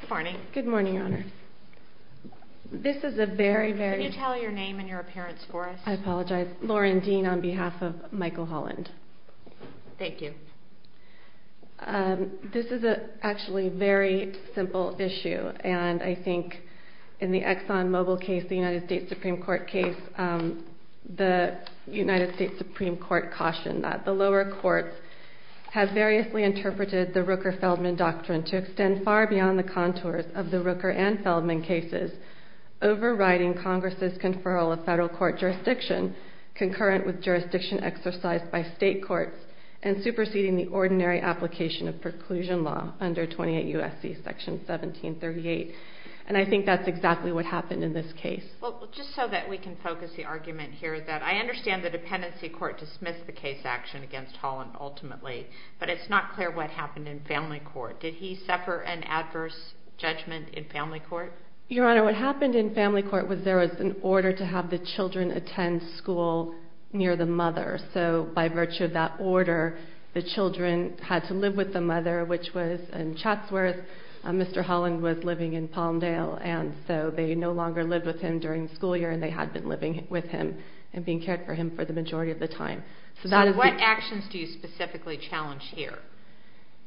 Good morning. Good morning, Your Honor. This is a very, very... Can you tell your name and your appearance for us? I apologize. Lauren Dean on behalf of Michael Holland. Thank you. This is actually a very simple issue and I think in the ExxonMobil case, the United States Supreme Court case, the United States Supreme Court cautioned that the lower courts have variously interpreted the Rooker-Feldman doctrine to extend far beyond the contours of the Rooker and Feldman cases, overriding Congress' conferral of federal court jurisdiction concurrent with jurisdiction exercised by state courts and superseding the ordinary application of preclusion law under 28 U.S.C. Section 1738. And I think that's exactly what happened in this case. Well, just so that we can focus the argument here is that I understand the dependency court dismissed the case action against Holland ultimately, but it's not clear what happened in family court. Did he suffer an adverse judgment in family court? Your Honor, what happened in family court was there was an order to have the children attend school near the mother. So by virtue of that order, the children had to live with the mother, which was in Chatsworth. Mr. Holland was living in Palmdale, and so they no longer lived with him during the school year, and they had been living with him and being cared for him for the majority of the time. So what actions do you specifically challenge here?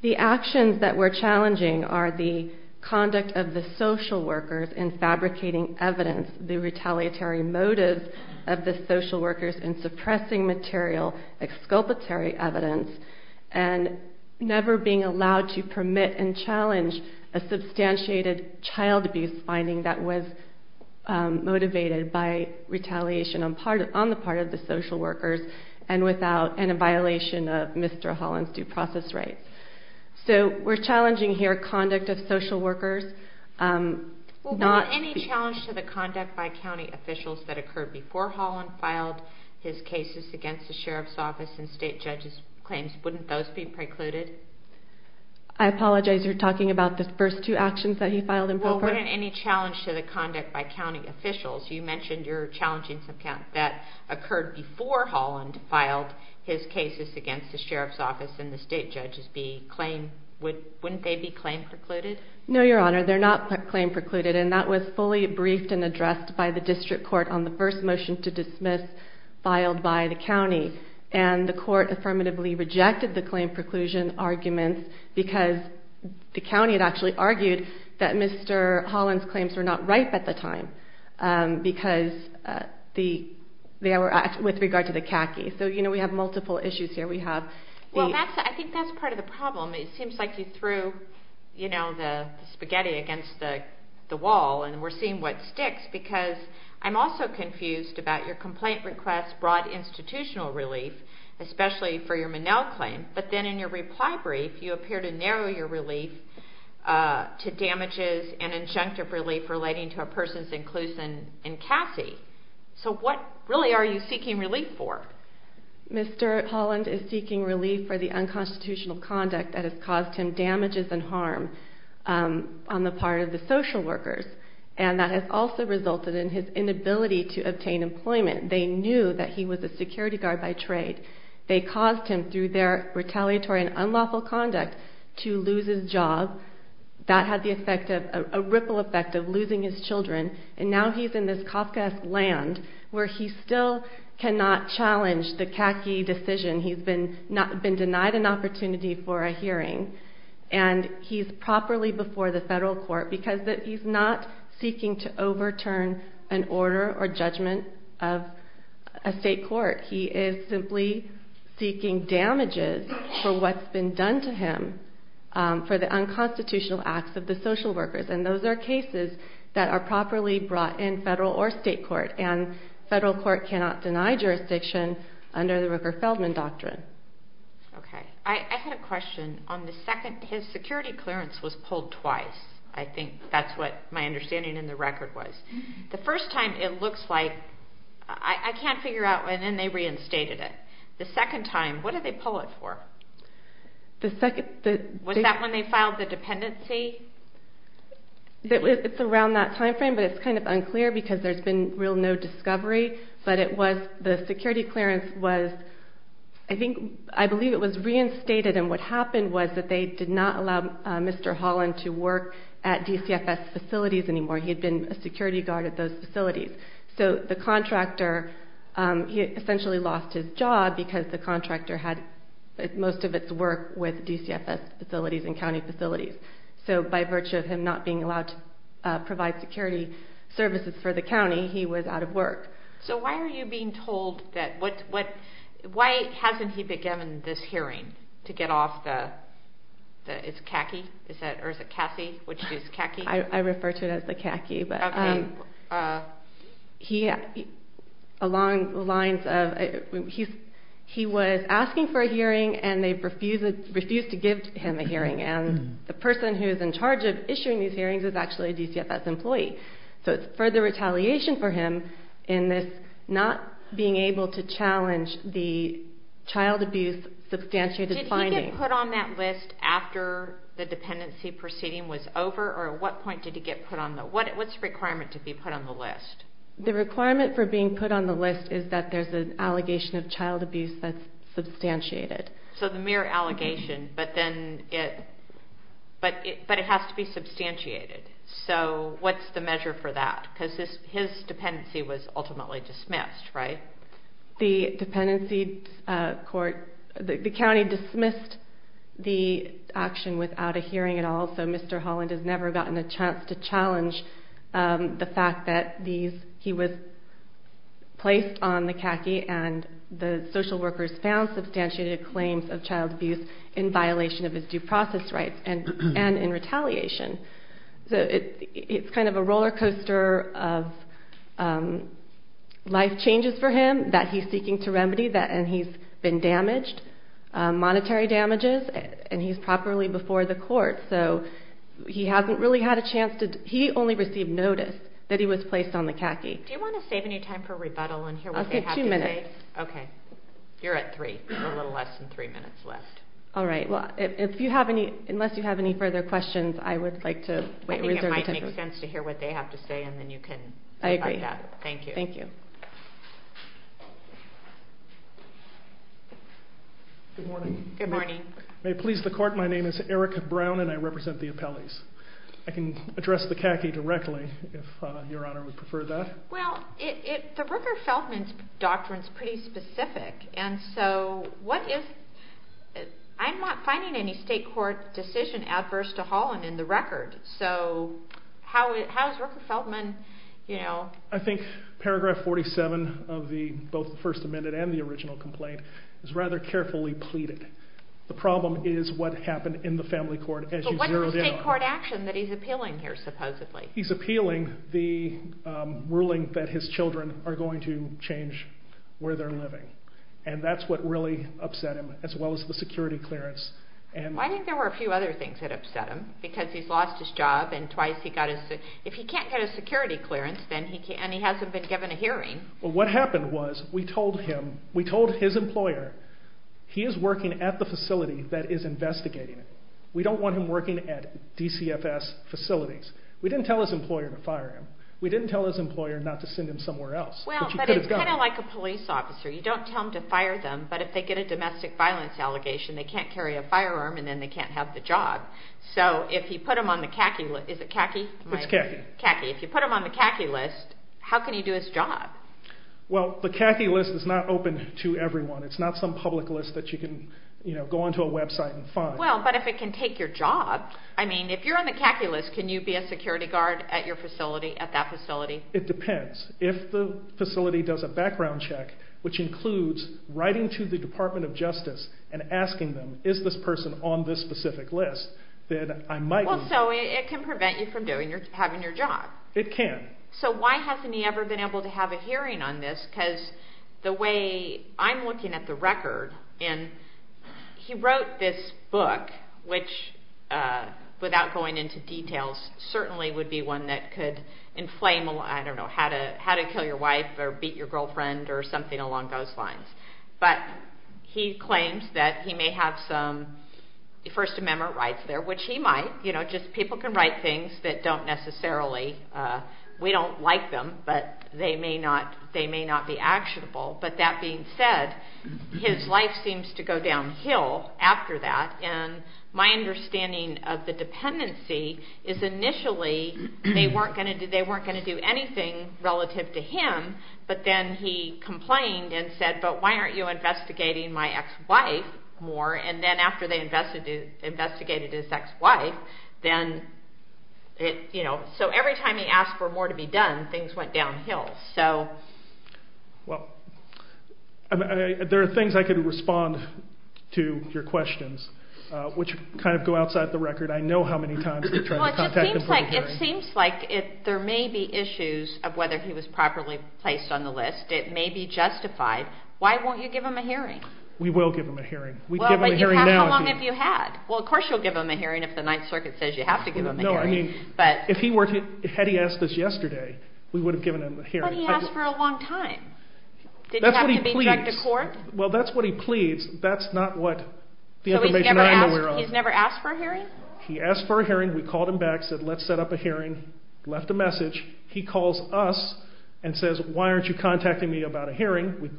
The actions that we're challenging are the conduct of the social workers in fabricating evidence, the retaliatory motives of the social workers in suppressing material, exculpatory evidence, and never being allowed to permit and challenge a substantiated child abuse finding that was motivated by retaliation on the part of the social workers and a violation of Mr. Holland's due process rights. So we're challenging here conduct of social workers. Were there any challenges to the conduct by county officials that occurred before Holland filed his cases against the sheriff's office and state judge's claims? Wouldn't those be precluded? I apologize. You're talking about the first two actions that he filed in Polk Park? Well, wouldn't any challenge to the conduct by county officials? You mentioned you're challenging some counts that occurred before Holland filed his cases against the sheriff's office and the state judge's claim. Wouldn't they be claim precluded? No, Your Honor. They're not claim precluded, and that was fully briefed and addressed by the district court on the first motion to dismiss filed by the county, and the court affirmatively rejected the claim preclusion argument because the county had actually argued that Mr. Holland's claims were not ripe at the time with regard to the khaki. So we have multiple issues here. I think that's part of the problem. It seems like you threw the spaghetti against the wall, and we're seeing what sticks because I'm also confused about your complaint request's broad institutional relief, especially for your Minnell claim. But then in your reply brief, you appear to narrow your relief to damages and injunctive relief relating to a person's inclusion in khaki. So what really are you seeking relief for? Mr. Holland is seeking relief for the unconstitutional conduct that has caused him damages and harm on the part of the social workers, and that has also resulted in his inability to obtain employment. They knew that he was a security guard by trade. They caused him through their retaliatory and unlawful conduct to lose his job. That had the effect of a ripple effect of losing his children, and now he's in this Kafkaesque land where he still cannot challenge the khaki decision. He's been denied an opportunity for a hearing, and he's properly before the federal court because he's not seeking to overturn an order or judgment of a state court. He is simply seeking damages for what's been done to him for the unconstitutional acts of the social workers, and those are cases that are properly brought in federal or state court, and federal court cannot deny jurisdiction under the Rooker-Feldman doctrine. I had a question. His security clearance was pulled twice. I think that's what my understanding in the record was. The first time it looks like, I can't figure out, and then they reinstated it. The second time, what did they pull it for? Was that when they filed the dependency? It's around that time frame, but it's kind of unclear because there's been real no discovery, but the security clearance was, I believe it was reinstated, and what happened was that they did not allow Mr. Holland to work at DCFS facilities anymore. He had been a security guard at those facilities. So the contractor, he essentially lost his job because the contractor had most of its work with DCFS facilities and county facilities, so by virtue of him not being allowed to provide security services for the county, he was out of work. So why are you being told that? Why hasn't he been given this hearing to get off the CACI? I refer to it as the CACI, but along the lines of he was asking for a hearing, and they refused to give him a hearing, and the person who is in charge of issuing these hearings is actually a DCFS employee. So it's further retaliation for him in this not being able to challenge the child abuse substantiated finding. Did he get put on that list after the dependency proceeding was over, or at what point did he get put on the list? What's the requirement to be put on the list? The requirement for being put on the list is that there's an allegation of child abuse that's substantiated. So the mere allegation, but it has to be substantiated. So what's the measure for that? Because his dependency was ultimately dismissed, right? The dependency court, the county dismissed the action without a hearing at all, so Mr. Holland has never gotten a chance to challenge the fact that he was placed on the CACI and the social workers found substantiated claims of child abuse in violation of his due process rights and in retaliation. So it's kind of a roller coaster of life changes for him that he's seeking to remedy, and he's been damaged, monetary damages, and he's properly before the court. So he hasn't really had a chance to, he only received notice that he was placed on the CACI. Do you want to save any time for rebuttal and hear what they have to say? I'll give two minutes. Okay. You're at three. You have a little less than three minutes left. All right. Well, unless you have any further questions, I would like to wait. I think it might make sense to hear what they have to say, and then you can go about that. I agree. Thank you. Thank you. Good morning. Good morning. May it please the court, my name is Eric Brown, and I represent the appellees. I can address the CACI directly if Your Honor would prefer that. Well, the Rooker-Feldman doctrine is pretty specific, and so what is, I'm not finding any state court decision adverse to Holland in the record, so how is Rooker-Feldman, you know. I think paragraph 47 of both the First Amendment and the original complaint is rather carefully pleaded. The problem is what happened in the family court as you zeroed in on it. So what is the state court action that he's appealing here supposedly? He's appealing the ruling that his children are going to change where they're living, and that's what really upset him, as well as the security clearance. Well, I think there were a few other things that upset him, because he's lost his job, and twice he got his, if he can't get a security clearance, and he hasn't been given a hearing. Well, what happened was we told him, we told his employer, he is working at the facility that is investigating. We don't want him working at DCFS facilities. We didn't tell his employer to fire him. We didn't tell his employer not to send him somewhere else. Well, but it's kind of like a police officer. You don't tell them to fire them, but if they get a domestic violence allegation, they can't carry a firearm, and then they can't have the job. So if you put him on the khaki list, is it khaki? It's khaki. Khaki. If you put him on the khaki list, how can he do his job? Well, the khaki list is not open to everyone. It's not some public list that you can, you know, go onto a website and find. Well, but if it can take your job, I mean, if you're on the khaki list, can you be a security guard at your facility, at that facility? It depends. If the facility does a background check, which includes writing to the Department of Justice and asking them, is this person on this specific list, then I might be. Well, so it can prevent you from having your job. It can. So why hasn't he ever been able to have a hearing on this? Because the way I'm looking at the record, and he wrote this book, which, without going into details, certainly would be one that could inflame, I don't know, how to kill your wife or beat your girlfriend or something along those lines. But he claims that he may have some First Amendment rights there, which he might. You know, just people can write things that don't necessarily, we don't like them, but they may not be actionable. But that being said, his life seems to go downhill after that, and my understanding of the dependency is initially they weren't going to do anything relative to him, but then he complained and said, but why aren't you investigating my ex-wife more? And then after they investigated his ex-wife, then, you know, so every time he asked for more to be done, things went downhill. Well, there are things I could respond to your questions, which kind of go outside the record. I know how many times we've tried to contact him for a hearing. Well, it seems like there may be issues of whether he was properly placed on the list. It may be justified. Why won't you give him a hearing? We will give him a hearing. Well, but how long have you had? Well, of course you'll give him a hearing if the Ninth Circuit says you have to give him a hearing. Had he asked us yesterday, we would have given him a hearing. But he asked for a long time. Did he have to be dragged to court? Well, that's what he pleads. That's not what the information I know we're on. So he's never asked for a hearing? He asked for a hearing. We called him back, said let's set up a hearing, left a message. He calls us and says, why aren't you contacting me about a hearing? We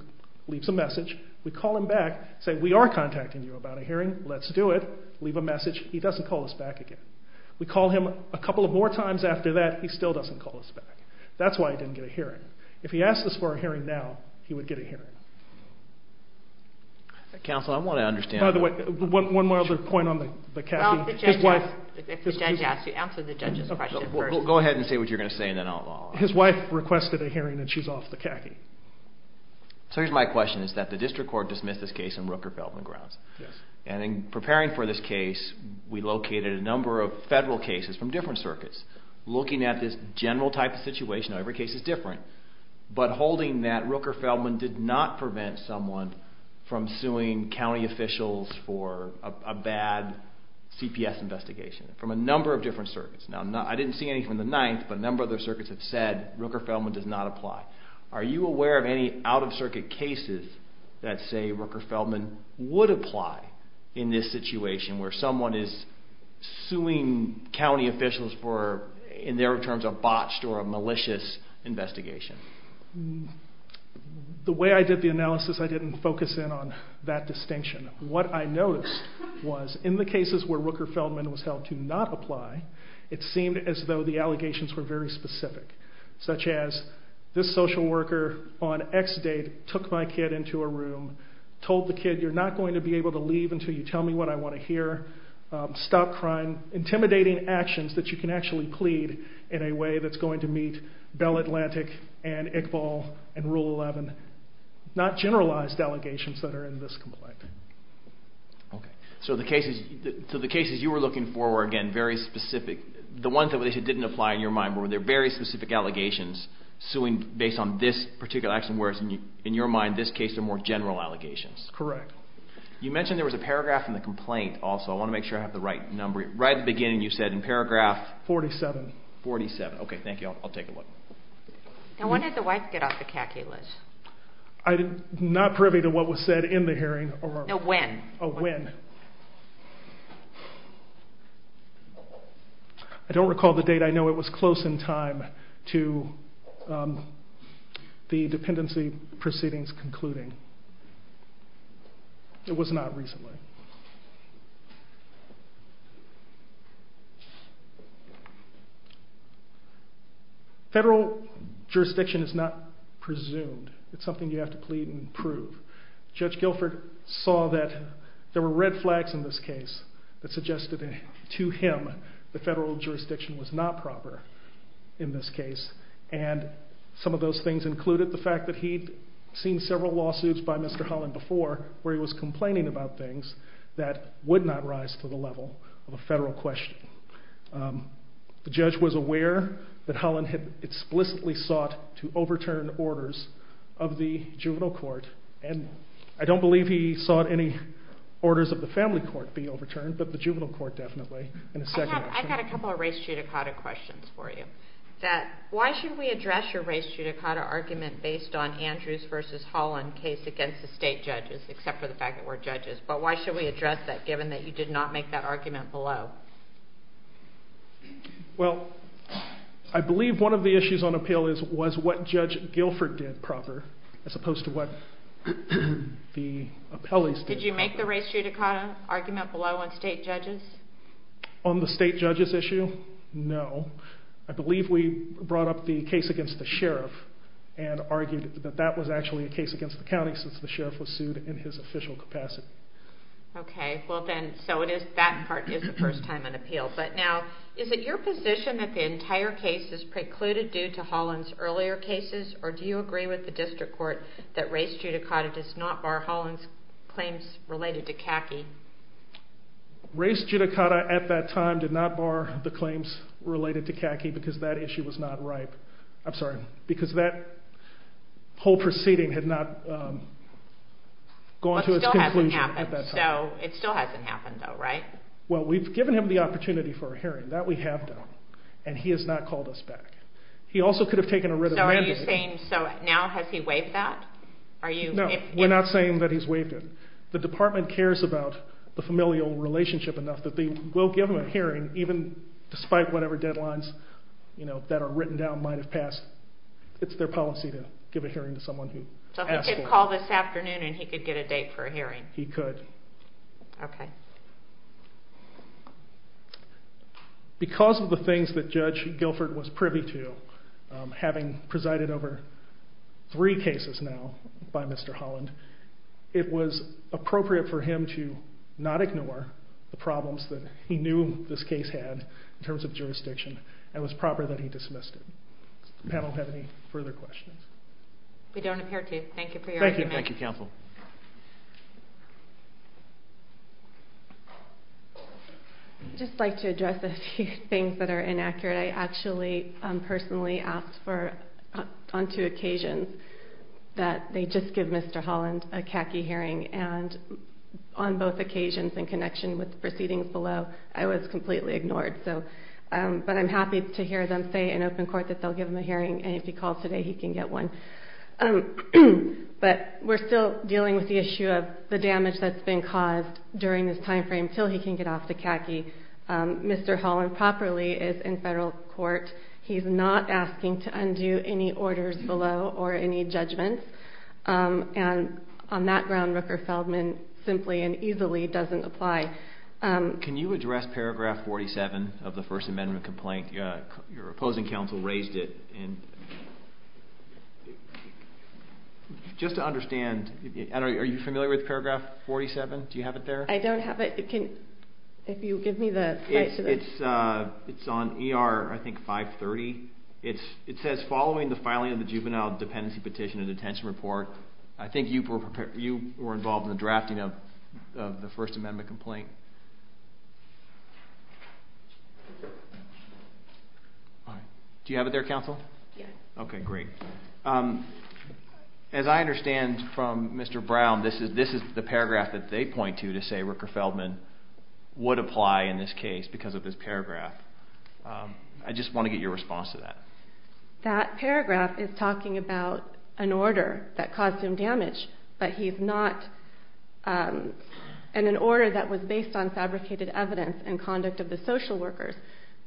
leave some message. We call him back, say we are contacting you about a hearing. Let's do it. Leave a message. He doesn't call us back again. We call him a couple of more times after that. He still doesn't call us back. That's why he didn't get a hearing. If he asked us for a hearing now, he would get a hearing. Counsel, I want to understand. By the way, one more other point on the khaki. If the judge asks you, answer the judge's question first. Go ahead and say what you're going to say and then I'll follow up. His wife requested a hearing and she's off the khaki. So here's my question. Is that the district court dismissed this case in Rooker-Beldman grounds? Yes. And in preparing for this case, we located a number of federal cases from different circuits. Looking at this general type of situation, every case is different. But holding that Rooker-Beldman did not prevent someone from suing county officials for a bad CPS investigation from a number of different circuits. I didn't see anything from the 9th, but a number of those circuits have said Rooker-Beldman does not apply. Are you aware of any out-of-circuit cases that say Rooker-Beldman would apply in this situation where someone is suing county officials for in their terms a botched or a malicious investigation? The way I did the analysis, I didn't focus in on that distinction. What I noticed was in the cases where Rooker-Beldman was held to not apply, it seemed as though the allegations were very specific, such as this social worker on X date took my kid into a room, told the kid, you're not going to be able to leave until you tell me what I want to hear, stop crying, intimidating actions that you can actually plead in a way that's going to meet Bell Atlantic and Iqbal and Rule 11. Not generalized allegations that are in this complaint. So the cases you were looking for were, again, very specific. The ones that didn't apply in your mind, were there very specific allegations suing based on this particular action, whereas in your mind this case are more general allegations? Correct. You mentioned there was a paragraph in the complaint also. I want to make sure I have the right number. Right at the beginning you said in paragraph 47. Okay, thank you. I'll take a look. When did the wife get off the caculus? I'm not privy to what was said in the hearing. When? When. I don't recall the date. I know it was close in time to the dependency proceedings concluding. It was not recently. Federal jurisdiction is not presumed. It's something you have to plead and prove. Judge Guilford saw that there were red flags in this case that suggested to him the federal jurisdiction was not proper in this case, and some of those things included the fact that he'd seen several lawsuits by Mr. Holland before where he was complaining about things that would not rise to the level of a federal question. The judge was aware that Holland had explicitly sought to overturn orders of the juvenile court and I don't believe he sought any orders of the family court to be overturned, but the juvenile court definitely. I've got a couple of race judicata questions for you. Why should we address your race judicata argument based on Andrews versus Holland case against the state judges except for the fact that we're judges, but why should we address that given that you did not make that argument below? Well, I believe one of the issues on appeal was what Judge Guilford did proper as opposed to what the appellees did. Did you make the race judicata argument below on state judges? On the state judges issue, no. I believe we brought up the case against the sheriff and argued that that was actually a case against the county since the sheriff was sued in his official capacity. Okay, so that part is the first time on appeal, but now is it your position that the entire case is precluded due to Holland's earlier cases or do you agree with the district court that race judicata does not bar Holland's claims related to Kaki? Race judicata at that time did not bar the claims related to Kaki because that issue was not ripe. I'm sorry, because that whole proceeding had not gone to its conclusion at that time. It still hasn't happened though, right? Well, we've given him the opportunity for a hearing. That we have done, and he has not called us back. He also could have taken a written mandate. So now has he waived that? No, we're not saying that he's waived it. The department cares about the familial relationship enough that they will give him a hearing even despite whatever deadlines that are written down might have passed. It's their policy to give a hearing to someone who asks for it. So he could call this afternoon and he could get a date for a hearing? He could. Okay. Because of the things that Judge Guilford was privy to, having presided over three cases now by Mr. Holland, it was appropriate for him to not ignore the problems that he knew this case had in terms of jurisdiction and it was proper that he dismissed it. Does the panel have any further questions? We don't appear to. Thank you for your argument. Thank you, counsel. I'd just like to address a few things that are inaccurate. I actually personally asked on two occasions that they just give Mr. Holland a CACI hearing, and on both occasions in connection with proceedings below, I was completely ignored. But I'm happy to hear them say in open court that they'll give him a hearing, and if he calls today he can get one. But we're still dealing with the issue of the damage that's been caused during this time frame until he can get off the CACI. Mr. Holland properly is in federal court. He's not asking to undo any orders below or any judgments, and on that ground, Rooker-Feldman simply and easily doesn't apply. Can you address paragraph 47 of the First Amendment complaint? Your opposing counsel raised it. Just to understand, are you familiar with paragraph 47? Do you have it there? I don't have it. It's on ER, I think, 530. It says, Following the filing of the juvenile dependency petition and detention report, I think you were involved in the drafting of the First Amendment complaint. Do you have it there, counsel? Yes. Okay, great. As I understand from Mr. Brown, this is the paragraph that they point to to say Rooker-Feldman would apply in this case because of this paragraph. I just want to get your response to that. That paragraph is talking about an order that caused him damage, and an order that was based on fabricated evidence and conduct of the social workers,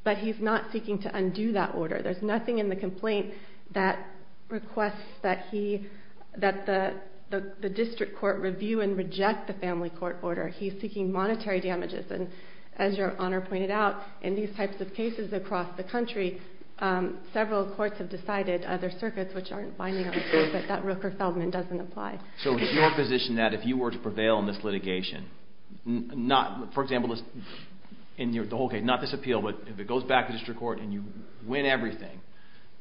but he's not seeking to undo that order. There's nothing in the complaint that requests that the district court review and reject the family court order. He's seeking monetary damages. And as Your Honor pointed out, in these types of cases across the country, several courts have decided, other circuits which aren't binding on the case, that that Rooker-Feldman doesn't apply. So is your position that if you were to prevail in this litigation, for example, in the whole case, not this appeal, but if it goes back to district court and you win everything,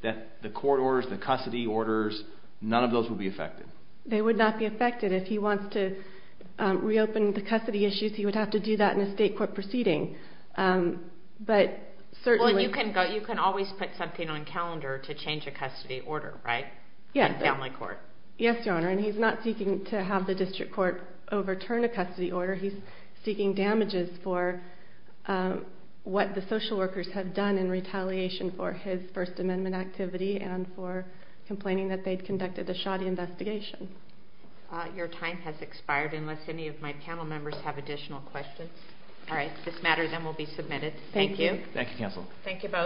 that the court orders, the custody orders, none of those would be affected? They would not be affected. If he wants to reopen the custody issues, he would have to do that in a state court proceeding. But certainly... Well, you can always put something on calendar to change a custody order, right? Yes, Your Honor. And he's not seeking to have the district court overturn a custody order. He's seeking damages for what the social workers have done in retaliation for his First Amendment activity and for complaining that they'd conducted a shoddy investigation. Your time has expired, unless any of my panel members have additional questions. All right, if this matters, then we'll be submitted. Thank you. Thank you, counsel. Thank you both.